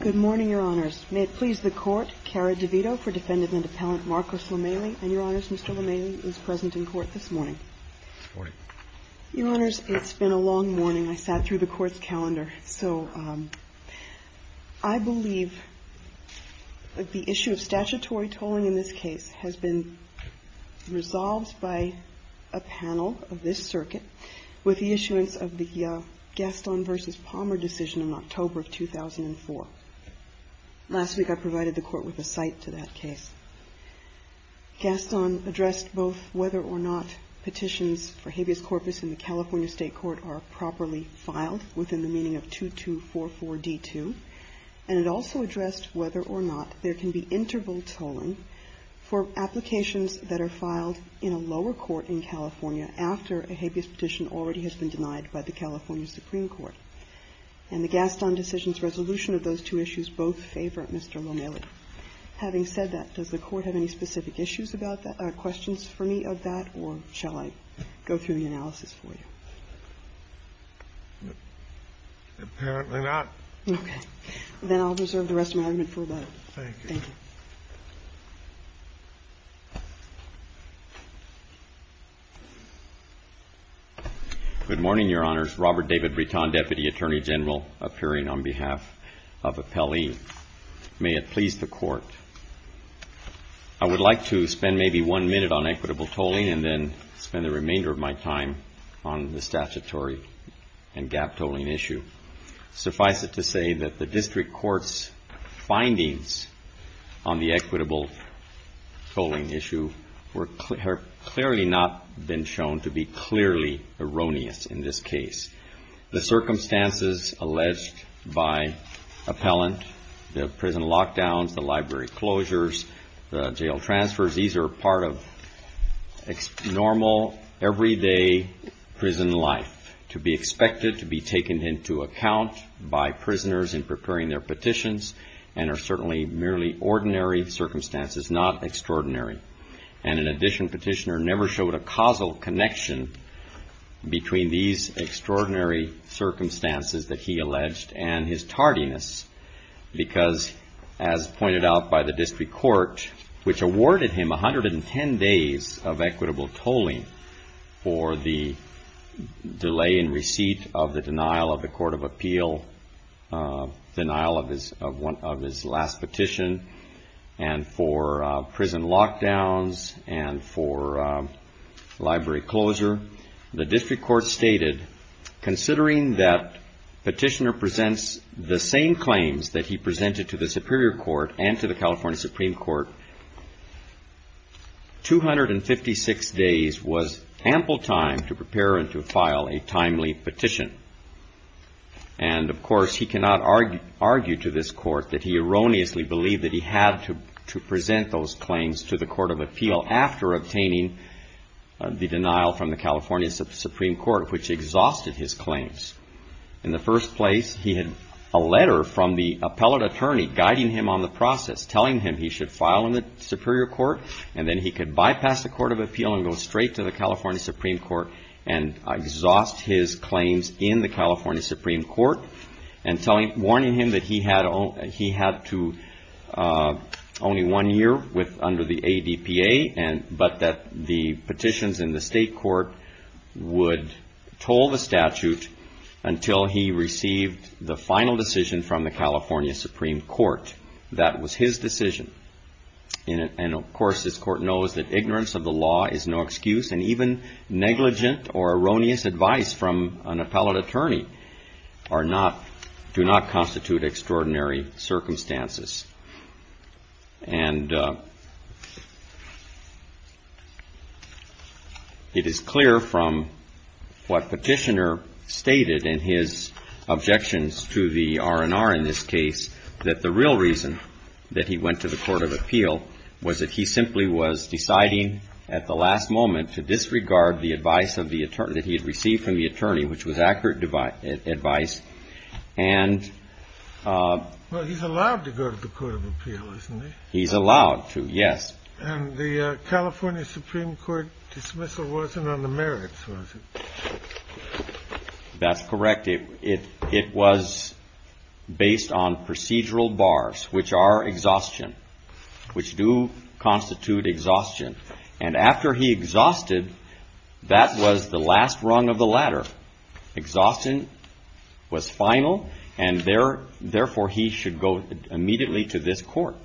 Good morning, Your Honors. May it please the Court, Cara DeVito for Defendant Appellant Marcos Lomeli, and Your Honors, Mr. Lomeli is present in court this morning. Good morning. Your Honors, it's been a long morning. I sat through the Court's calendar. So I believe the issue of statutory tolling in this case has been resolved by a panel of this circuit with the issuance of the Gaston v. Palmer decision in October of 2004. Last week I provided the Court with a cite to that case. Gaston addressed both whether or not petitions for habeas corpus in the California State Court are properly filed within the meaning of 2244 D2, and it also addressed whether or not there can be interval tolling for applications that are filed in a lower court in California after a habeas petition already has been denied by the California Supreme Court. And the Gaston decision's resolution of those two issues both favor Mr. Lomeli. Having said that, does the Court have any specific issues about that, questions for me of that, or shall I go through the analysis for you? LOMELI Apparently not. Okay. Then I'll reserve the rest of my amendment for about a minute. Thank you. Thank you. Good morning, Your Honors. Robert David Britton, Deputy Attorney General, appearing on behalf of Appellee. May it please the Court, I would like to spend maybe one minute on equitable tolling and then spend the remainder of my time on the statutory and gap tolling issue. Suffice it to say that the District Court's findings on the equitable tolling issue have clearly not been shown to be clearly erroneous in this case. The circumstances alleged by appellant, the prison lockdowns, the library closures, the jail transfers, these are part of normal, everyday prison life, to be expected to be taken to court and into account by prisoners in preparing their petitions and are certainly merely ordinary circumstances, not extraordinary. And in addition, Petitioner never showed a causal connection between these extraordinary circumstances that he alleged and his tardiness because, as pointed out by the District Court, which awarded him 110 days of equitable tolling for the delay in receipt of the denial of the Court of Appeal, denial of his last petition and for prison lockdowns and for library closure. The District Court stated, considering that Petitioner presents the same claims that he presented to the Superior Court and to the California Supreme Court, that Petitioner was ample time to prepare and to file a timely petition. And of course, he cannot argue to this Court that he erroneously believed that he had to present those claims to the Court of Appeal after obtaining the denial from the California Supreme Court, which exhausted his claims. In the first place, he had a letter from the appellate attorney guiding him on the process, telling him he should file in the Superior Court, and then he could bypass the Court of Appeal and go straight to the California Supreme Court and exhaust his claims in the California Supreme Court, and warning him that he had only one year under the ADPA, but that the petitions in the State Court would toll the statute until he received the final decision from the California Supreme Court. That was his decision. And of course, this Court knows that ignorance of the law is no excuse, and even negligent or erroneous advice from an appellate attorney do not constitute extraordinary circumstances. And it is clear from what Petitioner stated in his objections to the R&R in this case that the real reason that he went to the Court of Appeal was that he simply was deciding at the last moment to disregard the advice that he had received from the attorney, which was accurate advice. And... Well, he's allowed to go to the Court of Appeal, isn't he? He's allowed to, yes. And the California Supreme Court dismissal wasn't on the merits, was it? That's correct. It was based on procedural bars, which are exhaustion, which do constitute exhaustion. And after he exhausted, that was the last rung of the ladder. Exhaustion was final, and therefore he should go immediately to this Court.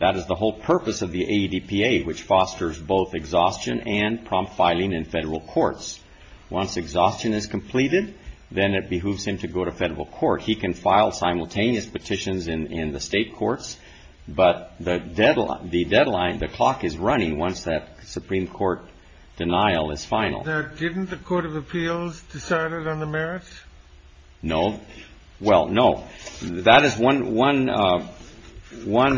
That is the whole purpose of the statute. Once exhaustion is completed, then it behooves him to go to federal court. He can file simultaneous petitions in the state courts, but the deadline, the clock is running once that Supreme Court denial is final. Now, didn't the Court of Appeals decide it on the merits? No. Well, no. That is one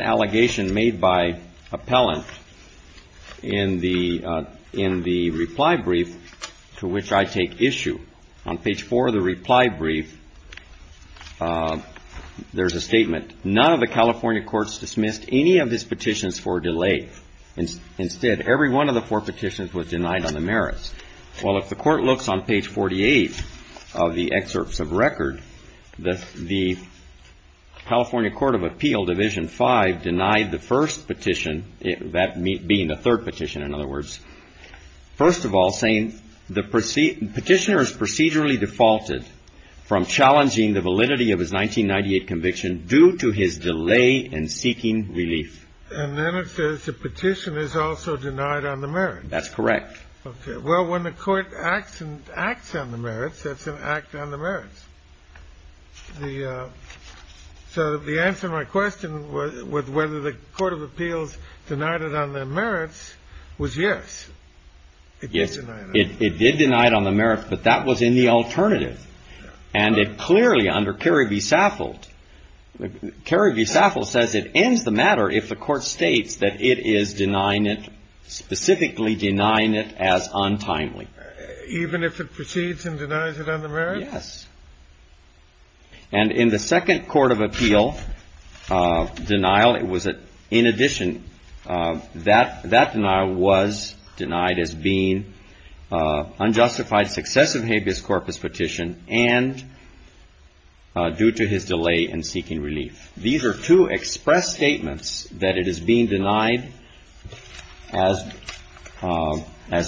allegation made by appellant in the reply brief to a Supreme Court petition, to which I take issue. On page four of the reply brief, there's a statement. None of the California courts dismissed any of his petitions for delay. Instead, every one of the four petitions was denied on the merits. Well, if the Court looks on page 48 of the excerpts of record, the California Court of Appeal, Division 5, denied the first petition, that being the third petition, in other words. First of all, saying the petitioner is procedurally defaulted from challenging the validity of his 1998 conviction due to his delay in seeking relief. And then it says the petition is also denied on the merits. That's correct. Okay. Well, when the Court acts on the merits, that's an act on the merits. So the answer to my question was whether the Court of Appeals denied it on the merits was yes. Yes. It did deny it on the merits, but that was in the alternative. And it clearly, under Kerry v. Saffold, Kerry v. Saffold says it ends the matter if the Court states that it is denying it, specifically denying it as untimely. Even if it proceeds and denies it on the merits? Yes. And in the second Court of Appeal denial, it was in addition, that denial was denied as being unjustified success of habeas corpus petition and due to his delay in seeking relief. These are two express statements that it is being denied as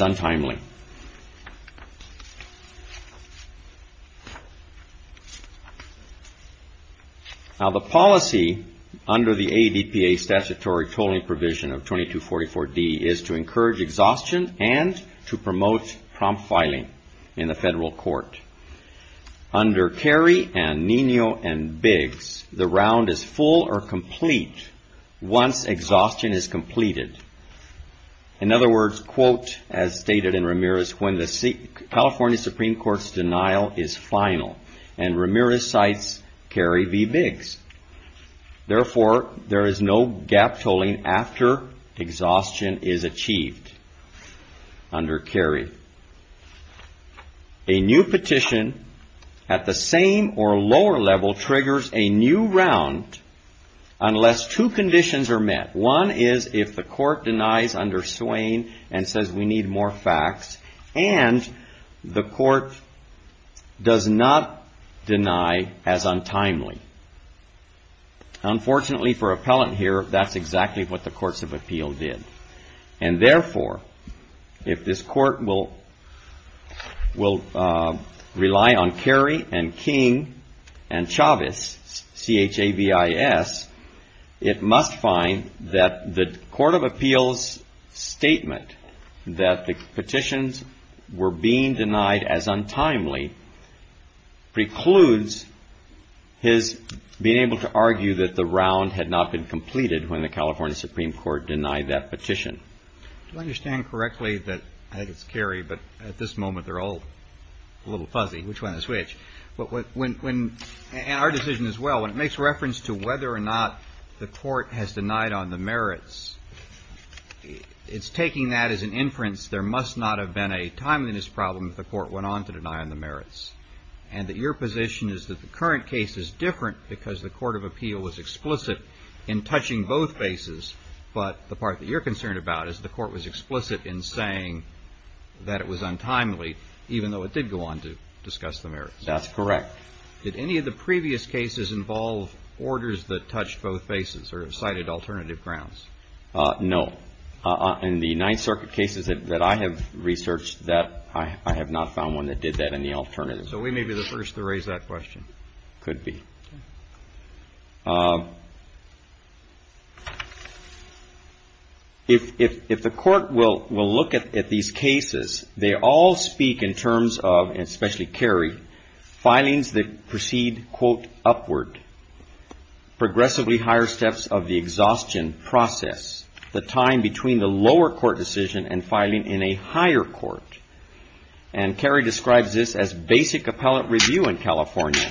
untimely. Now, the policy under the ADPA statutory tolling provision of 2244D is to encourage exhaustion and to promote prompt filing in the federal court. Under Kerry and Nino and Biggs, the round is full or complete once exhaustion is completed. In other words, quote, as stated in Ramirez, when the California Supreme Court's denial is final. And Ramirez cites Kerry v. Biggs. Therefore, there is no gap tolling after exhaustion is achieved under Kerry. A new petition at the same or lower level triggers a new round unless two conditions are met. One is if the court denies under Swain and says we need more facts and the court does not deny as untimely. Unfortunately for appellant here, that's exactly what the Courts of Appeal did. And therefore, if this court will rely on Kerry and King and Chavez, C-H-A-V-I-S, it must find that the Court of Appeal's statement that the petitions were being denied as untimely precludes his being able to argue that the round had not been completed when the California Supreme Court denied that petition. Do I understand correctly that, I think it's Kerry, but at this moment they're all a little different. It makes reference to whether or not the court has denied on the merits. It's taking that as an inference there must not have been a timeliness problem if the court went on to deny on the merits. And that your position is that the current case is different because the Court of Appeal was explicit in touching both bases, but the part that you're concerned about is the court was explicit in saying that it was untimely even though it did go on to discuss the merits. That's correct. Did any of the previous cases involve orders that touched both bases or cited alternative grounds? No. In the Ninth Circuit cases that I have researched, I have not found one that did that in the alternative. So we may be the first to raise that question. Could be. If the court will look at these cases, they all speak in terms of, and especially Kerry, filings that proceed, quote, upward, progressively higher steps of the exhaustion process, the time between the lower court decision and filing in a higher court. And Kerry describes this as basic appellate review in California.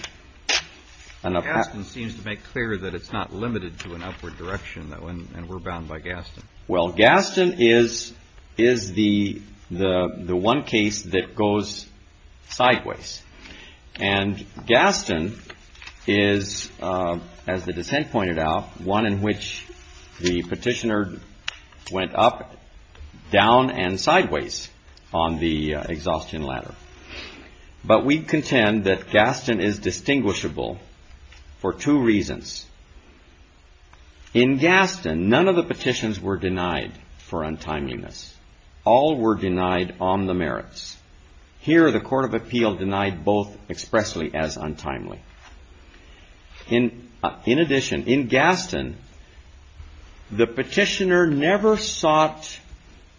Gaston seems to make clear that it's not limited to an upward direction and we're bound by Gaston. Well, Gaston is the one case that goes sideways. And Gaston is, as the dissent pointed out, one in which the petitioner went up, down and sideways on the exhaustion ladder. But we contend that Gaston is distinguishable for two reasons. In Gaston, none of the petitions were denied for untimeliness. All were denied on the merits. Here, the Court of Appeal denied both expressly as untimely. In addition, in Gaston, the petitioner never sought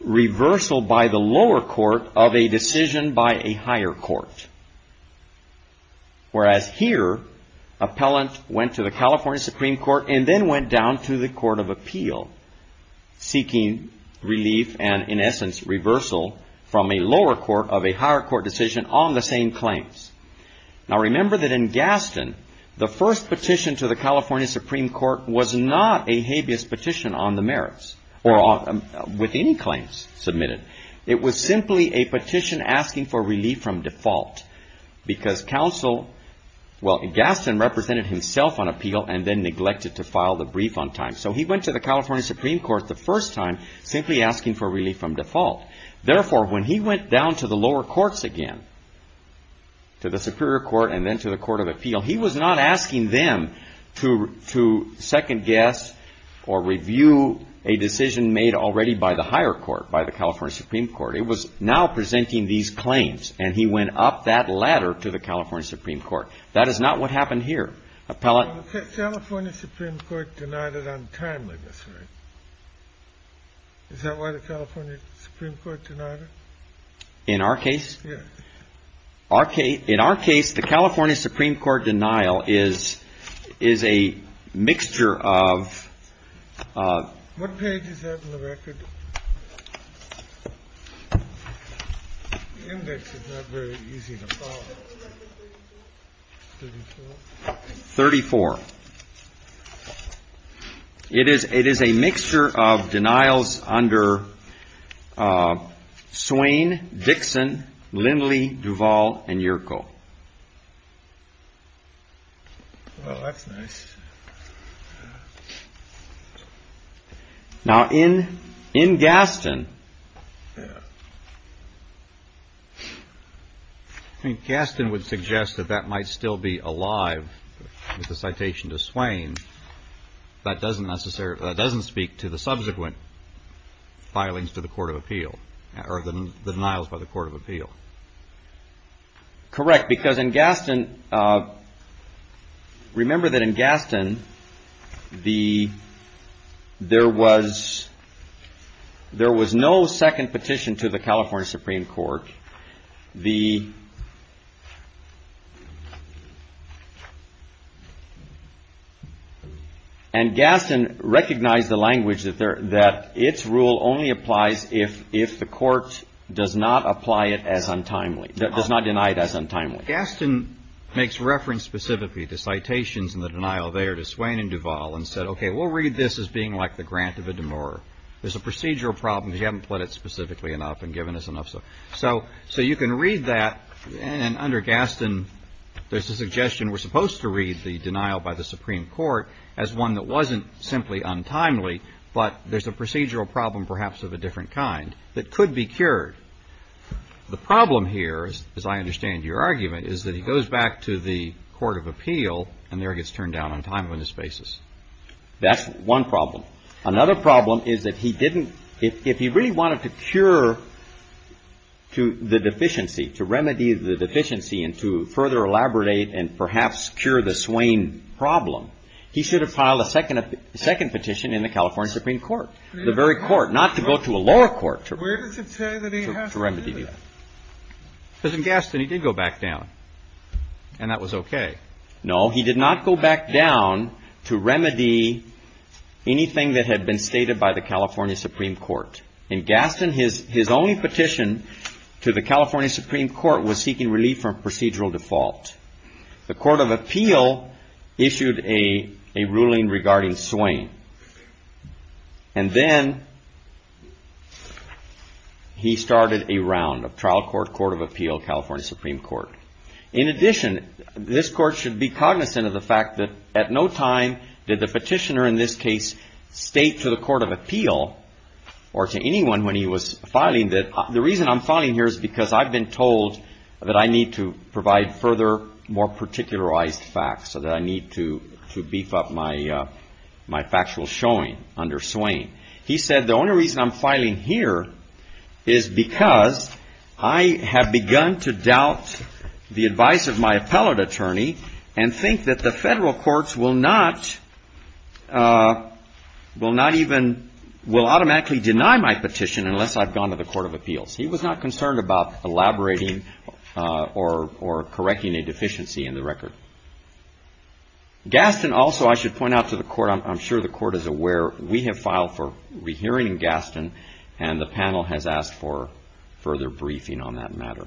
reversal by the lower court of a decision by a higher court. Whereas here, appellant went to the California Supreme Court and then went down to the Court of Appeal seeking relief and, in essence, reversal from a lower court of a higher court decision on the same claims. Now remember that in Gaston, the first petition to the California Supreme Court was not a habeas petition on the merits or with any claims submitted. It was simply a petition asking for relief from default because Gaston represented himself on appeal and then neglected to file the brief on time. So he went to the California Supreme Court the first time simply asking for relief from default. Therefore, when he went down to the lower courts again, to the Superior Court and then to the Court of Appeal, he was not asking them to second-guess or review a decision made already by the higher court, by the California Supreme Court. It was now presenting these claims and he went up that ladder to the California Supreme Court. That is not what happened here. The California Supreme Court denied it on time, I guess, right? Is that why the California Supreme Court denied it? In our case? Yes. In our case, the California Supreme Court denial is a mixture of... What page is that in the record? The index is not very easy to follow. 34. It is a mixture of denials under Swain, Dixon, Lindley, Duvall, and Yerko. Well, that's nice. Now, in Gaston, I think Gaston would suggest that that might still be alive with the citation to Swain. That doesn't speak to the subsequent filings to the Court of Appeal or the denials by the Court of Appeal. Correct, because in Gaston, remember that in Gaston, there was no second petition to the California Supreme Court. And Gaston recognized the language that its rule only applies if the Court does not apply it as untimely, does not deny it as untimely. Gaston makes reference specifically to citations in the denial there to Swain and Duvall and said, okay, we'll read this as being like the grant of a demurrer. There's a procedural problem. He hadn't put it specifically enough and given us enough. So you can read that, and under Gaston, there's a suggestion we're supposed to read the denial by the Supreme Court as one that wasn't simply untimely, but there's a procedural problem perhaps of a different kind that could be cured. The problem here, as I understand your argument, is that he goes back to the Court of Appeal, and there he gets turned down on a timeless basis. That's one problem. Another problem is that he didn't – if he really wanted to cure to the deficiency, to remedy the deficiency and to further elaborate and perhaps cure the Swain problem, he should have filed a second petition in the California Supreme Court, the very court, not to go to a lower court to remedy that. Where does it say that he has to do that? Because in Gaston, he did go back down, and that was okay. No, he did not go back down to remedy anything that had been stated by the California Supreme Court. In Gaston, his only petition to the California Supreme Court was seeking relief from procedural default. The Court of Appeal issued a ruling regarding Swain, and then he started a round of trial court, Court of Appeal, California Supreme Court. In addition, this court should be cognizant of the fact that at no time did the petitioner in this case state to the Court of Appeal or to anyone when he was filing that the reason I'm filing here is because I've been told that I need to provide further, more particularized facts so that I need to beef up my factual showing under Swain. He said the only reason I'm filing here is because I have begun to doubt the advice of my appellate attorney and think that the federal courts will not even – will automatically deny my petition unless I've gone to the Court of Appeals. He was not concerned about elaborating or correcting a deficiency in the record. Gaston also, I should point out to the Court, I'm sure the Court is aware, we have filed for rehearing Gaston, and the panel has asked for further briefing on that matter.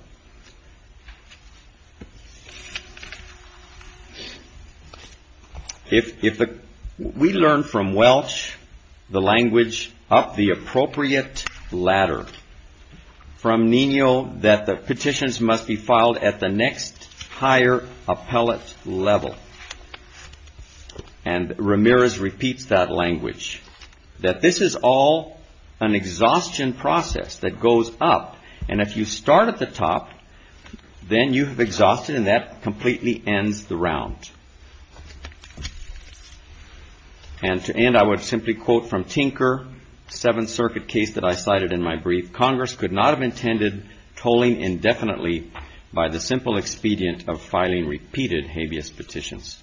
If we learn from Welch the language up the appropriate ladder, from Nino that the petitions must be filed at the next higher appellate level, and Ramirez repeats that language, that this is all an exhaustion process that goes up, and if you start at the top, then you have exhausted and that completely ends the round. And to end, I would simply quote from Tinker, the Seventh Circuit case that I cited in my brief, Congress could not have intended tolling indefinitely by the simple expedient of filing repeated habeas petitions.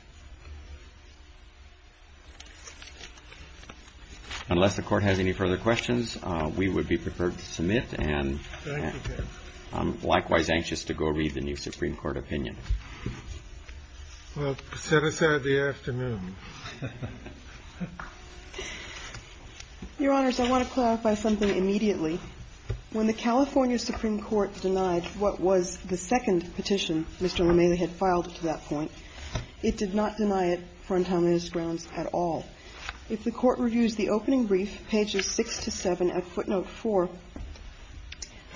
Unless the Court has any further questions, we would be prepared to submit and I'm likewise anxious to go read the new Supreme Court opinion. Well, set aside the afternoon. Your Honors, I want to clarify something immediately. When the California Supreme Court denied what was the second petition Mr. LeMay had filed to that point, it did not deny it for antinomious grounds at all. If the Court reviews the opening brief, pages 6 to 7, at footnote 4,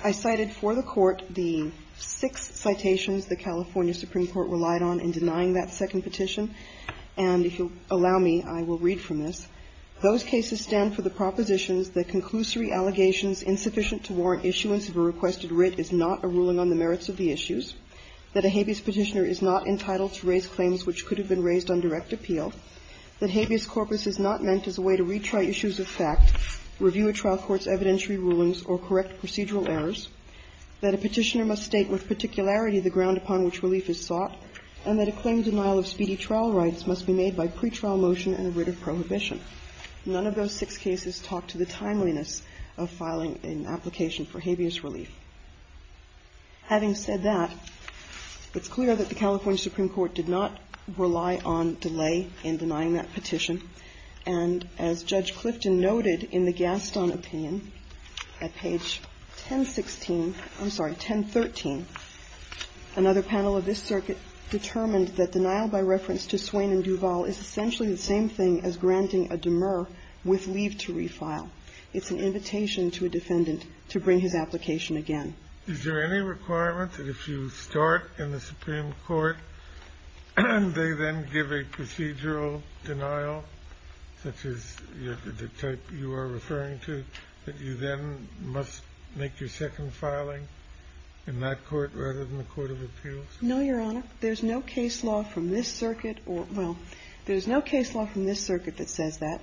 I cited for the Court the six citations the California Supreme Court relied on in denying that second petition, and if you'll allow me, I will read from this. Those cases stand for the propositions that conclusory allegations insufficient to warrant issuance of a requested writ is not a ruling on the merits of the issues, that a habeas petitioner is not entitled to raise claims which could have been raised on direct appeal, that habeas corpus is not meant as a way to retry issues of fact, review a trial court's evidentiary rulings, or correct procedural errors, that a petitioner must state with particularity the ground upon which relief is sought, and that a claim denial of speedy trial rights must be made by pretrial motion and a writ of prohibition. None of those six cases talk to the timeliness of filing an application for habeas relief. Having said that, it's clear that the California Supreme Court did not rely on delay in denying that petition, and as Judge Clifton noted in the Gaston opinion, at page 1016, I'm sorry, 1013, another panel of this circuit determined that denial by reference to Swain and Duvall is essentially the same thing as granting a demur with leave to refile. It's an invitation to a defendant to bring his application again. Is there any requirement that if you start in the Supreme Court, they then give a procedural denial, such as the type you are referring to, that you then must make your second filing in that court rather than the court of appeals? No, Your Honor. There's no case law from this circuit or – well, there's no case law from this circuit that says that.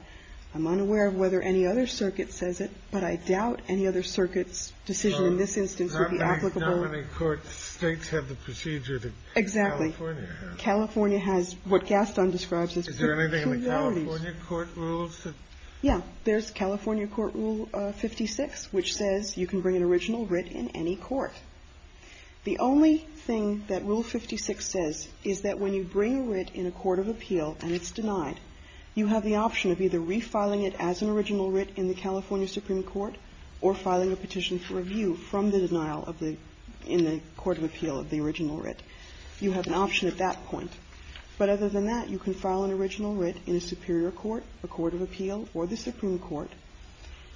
I'm unaware of whether any other circuit says it, but I doubt any other circuit's decision in this instance would be applicable. Well, I believe not many court states have the procedure that California has. Exactly. California has what Gaston describes as two priorities. Is there anything in the California court rules that – Yeah. There's California Court Rule 56, which says you can bring an original writ in any court. The only thing that Rule 56 says is that when you bring a writ in a court of appeal and it's denied, you have the option of either refiling it as an original writ in the California Supreme Court or filing a petition for review from the denial of the – in the court of appeal of the original writ. You have an option at that point. But other than that, you can file an original writ in a superior court, a court of appeal, or the Supreme Court.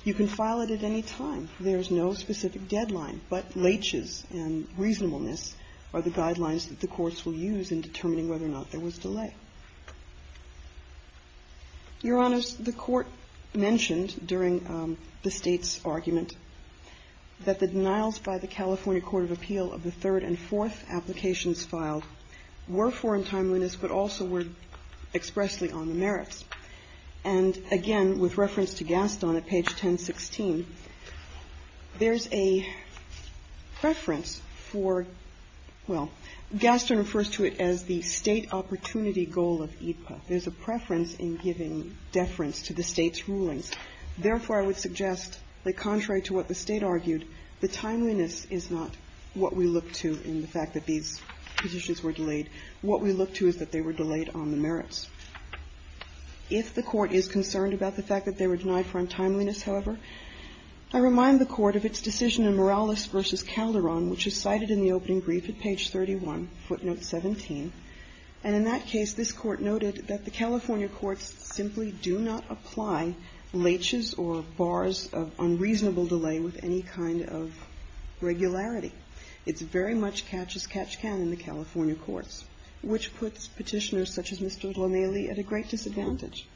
You can file it at any time. There's no specific deadline, but laches and reasonableness are the guidelines that the courts will use in determining whether or not there was delay. Your Honors, the Court mentioned during the State's argument that the denials by the California court of appeal of the third and fourth applications filed were for untimeliness, but also were expressly on the merits. And, again, with reference to Gaston at page 1016, there's a preference for – well, Gaston refers to it as the State opportunity goal of AEDPA. There's a preference in giving deference to the State's rulings. Therefore, I would suggest that contrary to what the State argued, the timeliness is not what we look to in the fact that these petitions were delayed. What we look to is that they were delayed on the merits. If the Court is concerned about the fact that they were denied for untimeliness, however, I remind the Court of its decision in Morales v. Calderon, which is cited in the opening brief at page 31, footnote 17. And in that case, this Court noted that the California courts simply do not apply laches or bars of unreasonable delay with any kind of regularity. It's very much catch-as-catch-can in the California courts, which puts Petitioners such as Mr. O'Donnelly at a great disadvantage.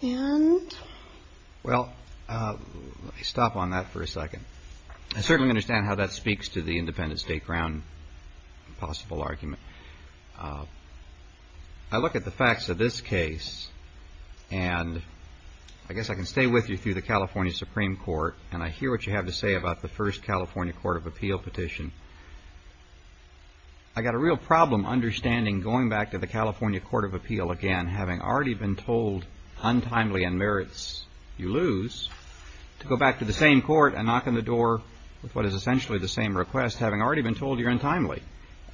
And? Well, let me stop on that for a second. I certainly understand how that speaks to the independent State ground possible argument. I look at the facts of this case, and I guess I can stay with you through the California Supreme Court, and I hear what you have to say about the first California Court of Appeal petition. I got a real problem understanding going back to the California Court of Appeal again, having already been told untimely and merits you lose, to go back to the same Court and knock on the door with what is essentially the same request, having already been told you're untimely.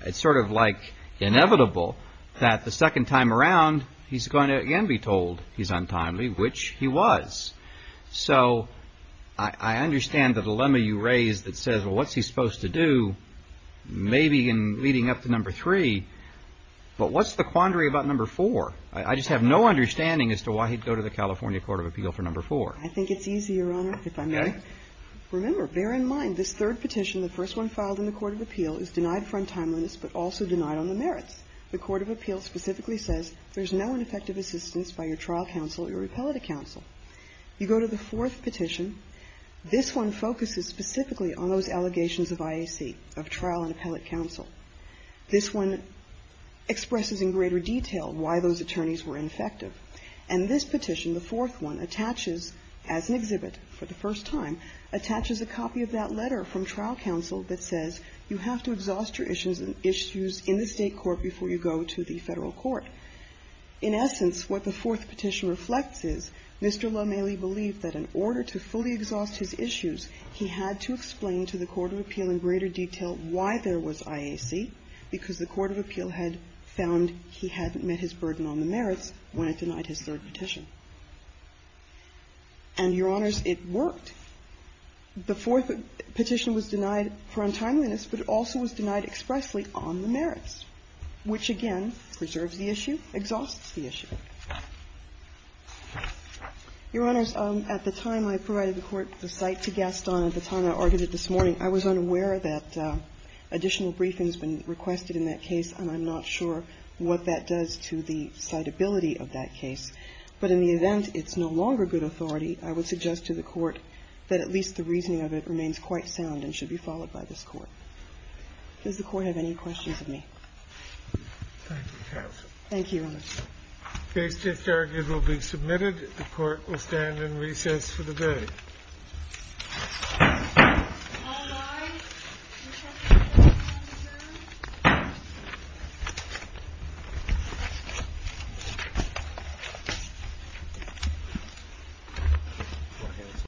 It's sort of like inevitable that the second time around, he's going to again be told he's untimely, which he was. So I understand the dilemma you raised that says, well, what's he supposed to do? Maybe in leading up to number three, but what's the quandary about number four? I just have no understanding as to why he'd go to the California Court of Appeal for number four. I think it's easier, Your Honor, if I may. Okay. Remember, bear in mind this third petition, the first one filed in the Court of Appeal, is denied for untimeliness, but also denied on the merits. The Court of Appeal specifically says there's no ineffective assistance by your trial counsel or your appellate counsel. You go to the fourth petition. This one focuses specifically on those allegations of IAC, of trial and appellate counsel. This one expresses in greater detail why those attorneys were ineffective. And this petition, the fourth one, attaches, as an exhibit for the first time, attaches a copy of that letter from trial counsel that says you have to exhaust your issues in the State court before you go to the Federal court. In essence, what the fourth petition reflects is Mr. Lomeli believed that in order to fully exhaust his issues, he had to explain to the Court of Appeal in greater detail why there was IAC, because the Court of Appeal had found he hadn't met his burden on the merits when it denied his third petition. And, Your Honors, it worked. The fourth petition was denied for untimeliness, but it also was denied expressly on the merits, which, again, preserves the issue, exhausts the issue. Your Honors, at the time I provided the court the cite to Gaston, at the time I argued it this morning, I was unaware that additional briefing has been requested in that case, and I'm not sure what that does to the citability of that case. But in the event it's no longer good authority, I would suggest to the Court that at least the reasoning of it remains quite sound and should be followed by this Court. Does the Court have any questions of me? Thank you, Your Honors. Case just argued will be submitted. The Court will stand in recess for the day.